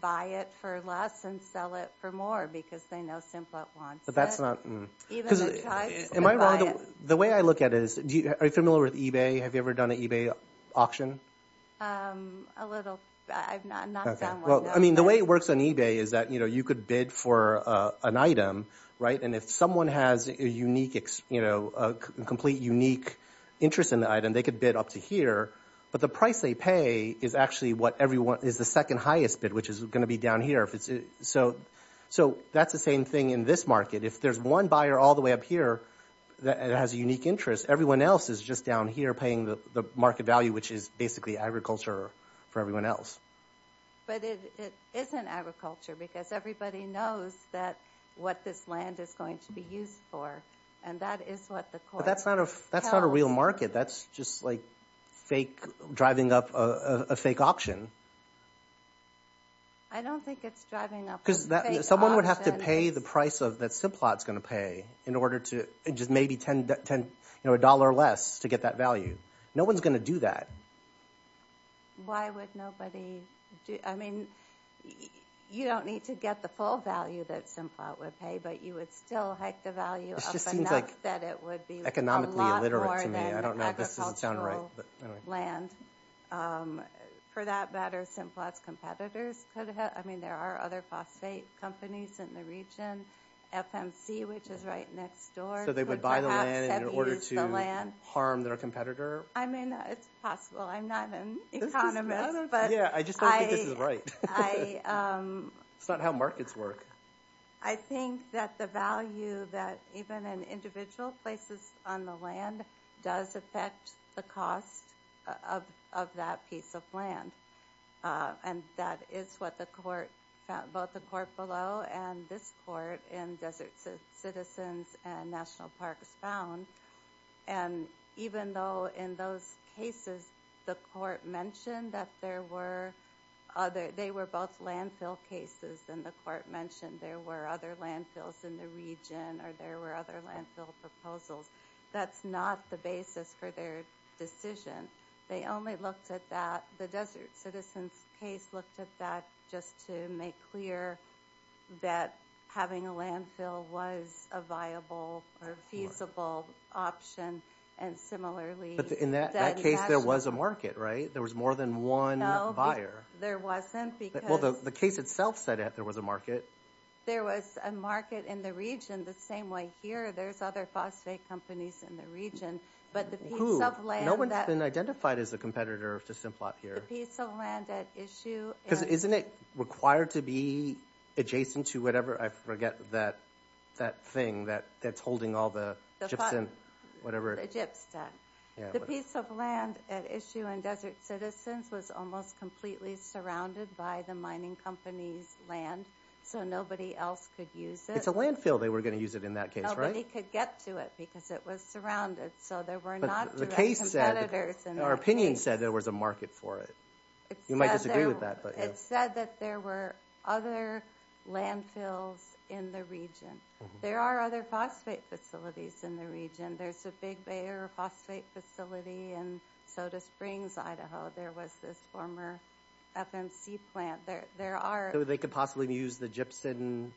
buy it for less and sell it for more because they know Simplet wants it. But that's not, mm. Even the tribes can buy it. The way I look at it is, are you familiar with eBay? Have you ever done an eBay auction? A little, I've not done one, no. I mean, the way it works on eBay is that you could bid for an item, right? And if someone has a complete unique interest in the item, they could bid up to here. But the price they pay is actually what everyone, is the second highest bid, which is gonna be down here. So that's the same thing in this market. If there's one buyer all the way up here that has a unique interest, everyone else is just down here paying the market value, which is basically agriculture for everyone else. But it isn't agriculture because everybody knows that what this land is going to be used for. And that is what the court tells. But that's not a real market. That's just like fake, driving up a fake auction. I don't think it's driving up a fake auction. Because someone would have to pay the price that Simplet's gonna pay in order to, just maybe $10 less to get that value. No one's gonna do that. Why would nobody do? I mean, you don't need to get the full value that Simplet would pay, but you would still hike the value up enough that it would be a lot more than agricultural land. For that matter, Simplet's competitors could have, I mean, there are other phosphate companies in the region, FMC, which is right next door. So they would buy the land in order to harm their competitor? I mean, it's possible. I'm not an economist, but I- Yeah, I just don't think this is right. It's not how markets work. I think that the value that even in individual places on the land does affect the cost of that piece of land. And that is what the court, both the court below and this court in Desert Citizens and National Parks found. And even though in those cases, the court mentioned that there were other, they were both landfill cases and the court mentioned there were other landfills in the region or there were other landfill proposals. That's not the basis for their decision. They only looked at that, the Desert Citizens case looked at that just to make clear that having a landfill was a viable or feasible option. And similarly- In that case, there was a market, right? There was more than one buyer. There wasn't because- Well, the case itself said that there was a market. There was a market in the region the same way here. There's other phosphate companies in the region, but the piece of land- No one's been identified as a competitor to Simplot here. The piece of land at issue- Because isn't it required to be adjacent to whatever? I forget that thing that's holding all the gypsum, whatever- The gypsum. The piece of land at issue in Desert Citizens was almost completely surrounded by the mining company's land, so nobody else could use it. It's a landfill they were gonna use it in that case, right? Nobody could get to it because it was surrounded, so there were not direct competitors in that case. Our opinion said there was a market for it. You might disagree with that, but- In the region. There are other phosphate facilities in the region. There's a Big Bear phosphate facility in Soda Springs, Idaho. There was this former FMC plant. There are- They could possibly use the gypsum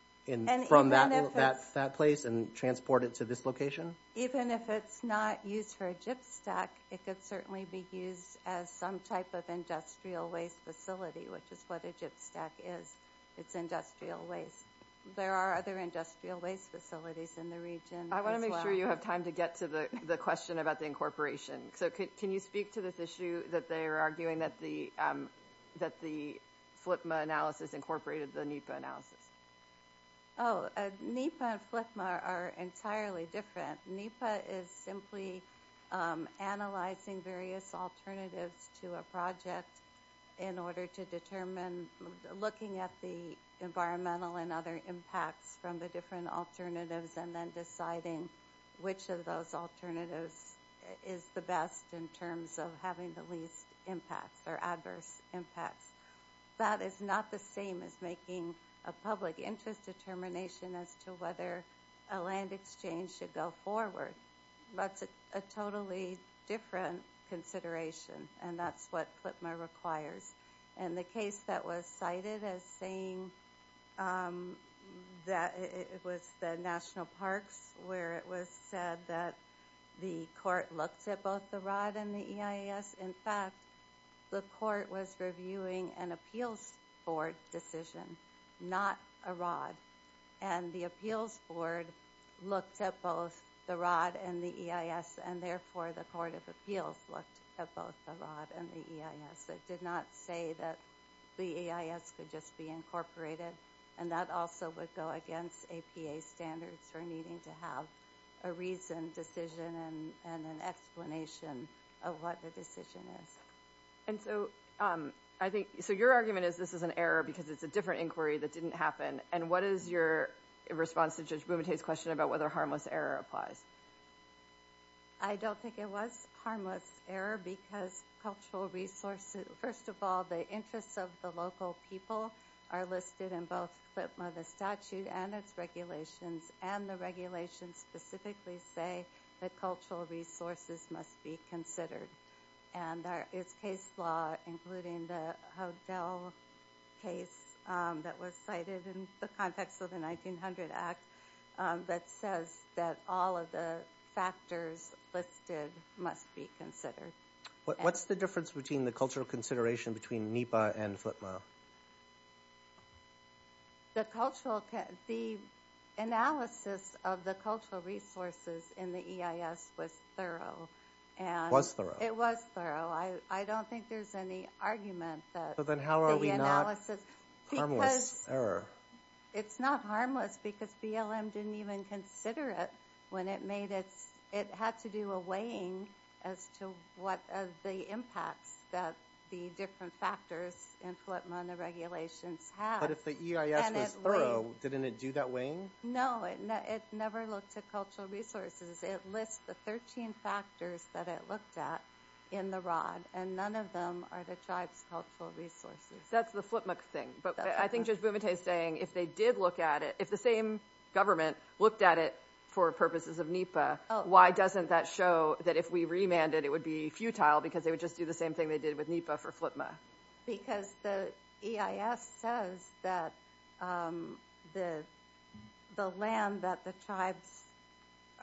from that place and transport it to this location? Even if it's not used for a gypstack, it could certainly be used as some type of industrial waste facility, which is what a gypstack is. It's industrial waste. There are other industrial waste facilities in the region as well. I wanna make sure you have time to get to the question about the incorporation. So can you speak to this issue that they are arguing that the FLIPMA analysis incorporated the NEPA analysis? Oh, NEPA and FLIPMA are entirely different. NEPA is simply analyzing various alternatives to a project in order to determine, looking at the environmental and other impacts from the different alternatives and then deciding which of those alternatives is the best in terms of having the least impacts or adverse impacts. That is not the same as making a public interest determination as to whether a land exchange should go forward. That's a totally different consideration and that's what FLIPMA requires. And the case that was cited as saying that it was the National Parks where it was said that the court looked at both the ROD and the EIS. In fact, the court was reviewing an appeals board decision, not a ROD. And the appeals board looked at both the ROD and the EIS and therefore the court of appeals looked at both the ROD and the EIS. It did not say that the EIS could just be incorporated and that also would go against APA standards for needing to have a reasoned decision and an explanation of what the decision is. And so I think, so your argument is this is an error because it's a different inquiry that didn't happen. And what is your response to Judge Bumate's question about whether harmless error applies? I don't think it was harmless error because cultural resources, first of all, the interests of the local people are listed in both FLIPMA, the statute and its regulations and the regulations specifically say that cultural resources must be considered. And there is case law including the Houdel case that was cited in the context of the 1900 Act that says that all of the factors listed must be considered. What's the difference between the cultural consideration between NEPA and FLIPMA? The cultural, the analysis of the cultural resources in the EIS was thorough and. It was thorough, I don't think there's any argument that the analysis. But then how are we not harmless error? It's not harmless because BLM didn't even consider it when it made its, it had to do a weighing as to what are the impacts that the different factors in FLIPMA and the regulations have. But if the EIS was thorough, didn't it do that weighing? No, it never looked at cultural resources. It lists the 13 factors that it looked at in the rod and none of them are the tribe's cultural resources. That's the FLIPMA thing. But I think Judge Bumate is saying if they did look at it, if the same government looked at it for purposes of NEPA, why doesn't that show that if we remanded, it would be futile because they would just do the same thing they did with NEPA for FLIPMA? Because the EIS says that the land that the tribes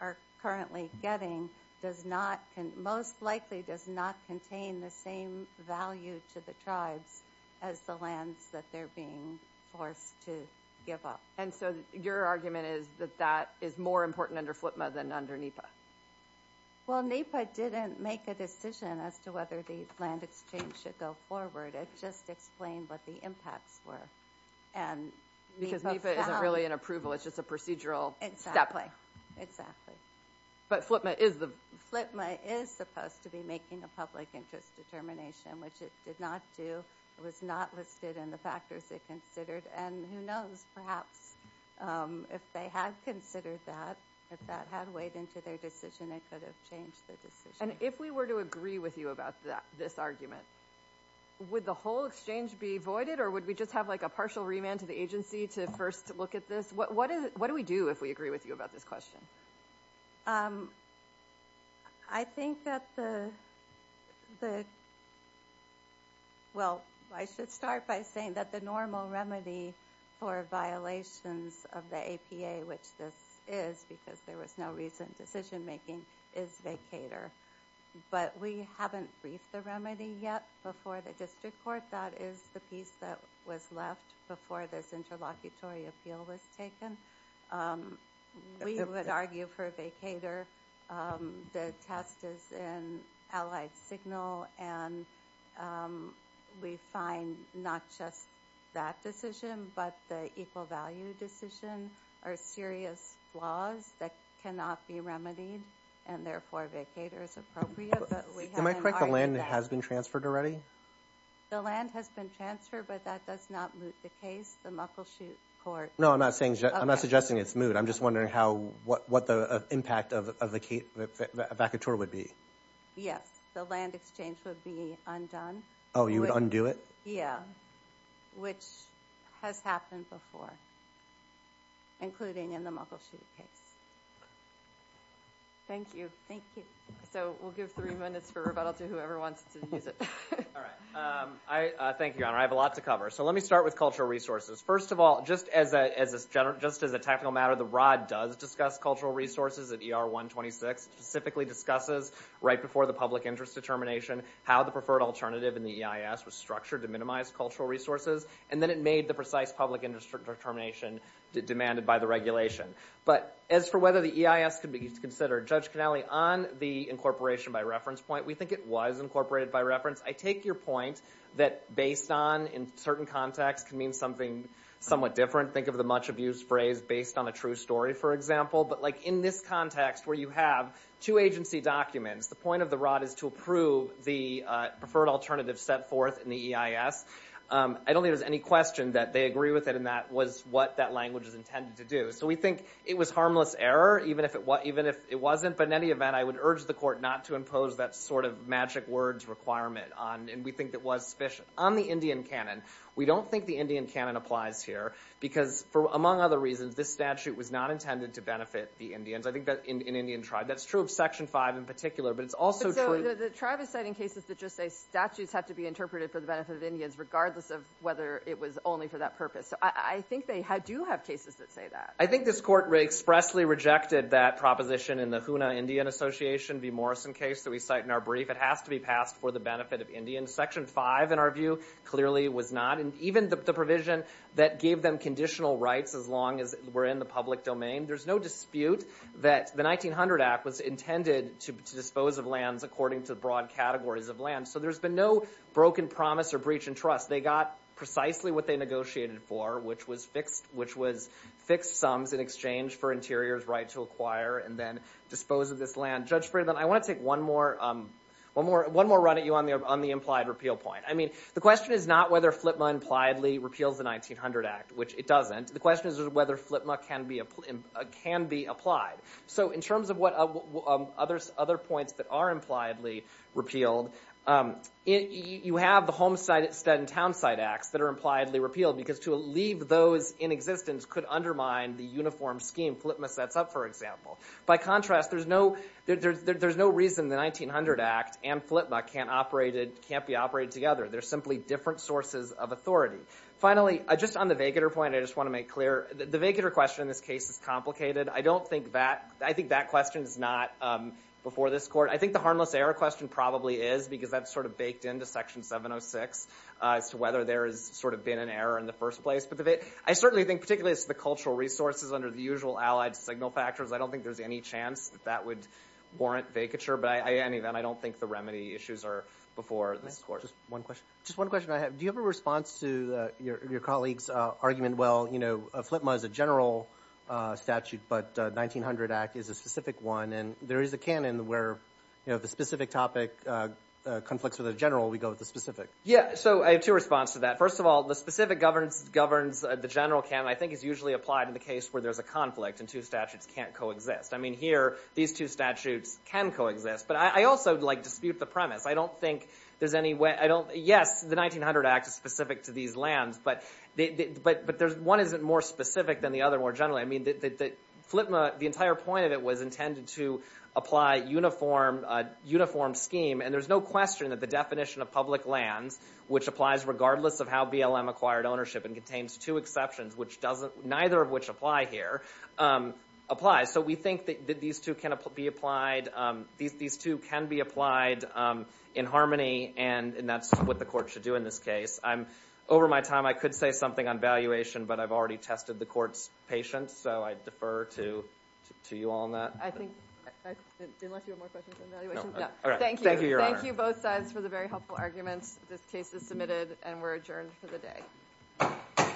are currently getting does not, most likely does not contain the same value to the tribes as the lands that they're being forced to give up. Your argument is that that is more important under FLIPMA than under NEPA? Well, NEPA didn't make a decision as to whether the land exchange should go forward. It just explained what the impacts were and NEPA found- Because NEPA isn't really an approval, it's just a procedural step. Exactly, exactly. But FLIPMA is the- FLIPMA is supposed to be making a public interest determination, which it did not do. It was not listed in the factors it considered and who knows, perhaps if they had considered that, if that had weighed into their decision, it could have changed the decision. And if we were to agree with you about this argument, would the whole exchange be voided or would we just have like a partial remand to the agency to first look at this? What do we do if we agree with you about this question? I think that the, well, I should start by saying that the normal remedy for violations of the APA, which this is because there was no recent decision-making, is vacator. But we haven't briefed the remedy yet before the district court. That is the piece that was left before this interlocutory appeal was taken. We would argue for a vacator. The test is in Allied Signal and we find not just that decision, but the equal value decision are serious flaws that cannot be remedied, and therefore, a vacator is appropriate, but we haven't argued that. Am I correct, the land has been transferred already? The land has been transferred, but that does not moot the case. The Muckleshoot Court. No, I'm not suggesting it's moot. I'm just wondering what the impact of a vacator would be. Yes, the land exchange would be undone. Oh, you would undo it? Yeah, which has happened before, including in the Muckleshoot case. Thank you. Thank you. So we'll give three minutes for rebuttal to whoever wants to use it. All right, thank you, Your Honor. I have a lot to cover. So let me start with cultural resources. First of all, just as a technical matter, the ROD does discuss cultural resources at ER 126, specifically discusses right before the public interest determination how the preferred alternative in the EIS was structured to minimize cultural resources, and then it made the precise public interest determination demanded by the regulation. But as for whether the EIS could be considered, Judge Cannelli, on the incorporation by reference point, we think it was incorporated by reference. I take your point that based on, in certain contexts, can mean something somewhat different. Think of the much-abused phrase based on a true story, for example. But in this context where you have two agency documents, the point of the ROD is to approve the preferred alternative set forth in the EIS. I don't think there's any question that they agree with it and that was what that language is intended to do. So we think it was harmless error, even if it wasn't. But in any event, I would urge the court not to impose that sort of magic words requirement on, and we think that was, on the Indian canon. We don't think the Indian canon applies here because, among other reasons, this statute was not intended to benefit the Indians. I think that, in Indian tribe, that's true of section five in particular, but it's also true. So the tribe is citing cases that just say statutes have to be interpreted for the benefit of Indians, regardless of whether it was only for that purpose. So I think they do have cases that say that. I think this court expressly rejected that proposition in the Hoonah Indian Association v. Morrison case that we cite in our brief. It has to be passed for the benefit of Indians. Section five, in our view, clearly was not. And even the provision that gave them conditional rights as long as we're in the public domain, there's no dispute that the 1900 Act was intended to dispose of lands according to the broad categories of land. So there's been no broken promise or breach in trust. They got precisely what they negotiated for, which was fixed sums in exchange for Interior's right to acquire and then dispose of this land. Judge Friedman, I want to take one more run at you on the implied repeal point. I mean, the question is not whether Flipma impliedly repeals the 1900 Act, which it doesn't. The question is whether Flipma can be applied. So in terms of what other points that are impliedly repealed, you have the Homestead and Townsite Acts that are impliedly repealed because to leave those in existence could undermine the uniform scheme. Flipma sets up, for example. By contrast, there's no reason the 1900 Act and Flipma can't be operated together. They're simply different sources of authority. Finally, just on the vaguer point, I just want to make clear, the vaguer question in this case is complicated. I don't think that, I think that question is not before this court. I think the harmless error question probably is because that's sort of baked into Section 706 as to whether there has sort of been an error in the first place. I certainly think, particularly as to the cultural resources under the usual allied signal factors, I don't think there's any chance that that would warrant vacature. But in any event, I don't think the remedy issues are before this court. Just one question. Just one question I have. Do you have a response to your colleague's argument that Flipma is a general statute, but the 1900 Act is a specific one, and there is a canon where the specific topic conflicts with a general, we go with the specific. Yeah, so I have two responses to that. First of all, the specific governs the general canon. I think it's usually applied in the case where there's a conflict and two statutes can't coexist. I mean, here, these two statutes can coexist, but I also dispute the premise. I don't think there's any way, yes, the 1900 Act is specific to these lands, but one isn't more specific than the other more generally. I mean, Flipma, the entire point of it was intended to apply uniform scheme, and there's no question that the definition of public lands, which applies regardless of how BLM acquired ownership and contains two exceptions, neither of which apply here, applies. So we think that these two can be applied in harmony, and that's what the court should do in this case. Over my time, I could say something on valuation, but I've already tested the court's patience, so I defer to you all on that. I think, unless you have more questions on valuation, no. All right, thank you, Your Honor. Thank you both sides for the very helpful arguments. This case is submitted, and we're adjourned for the day.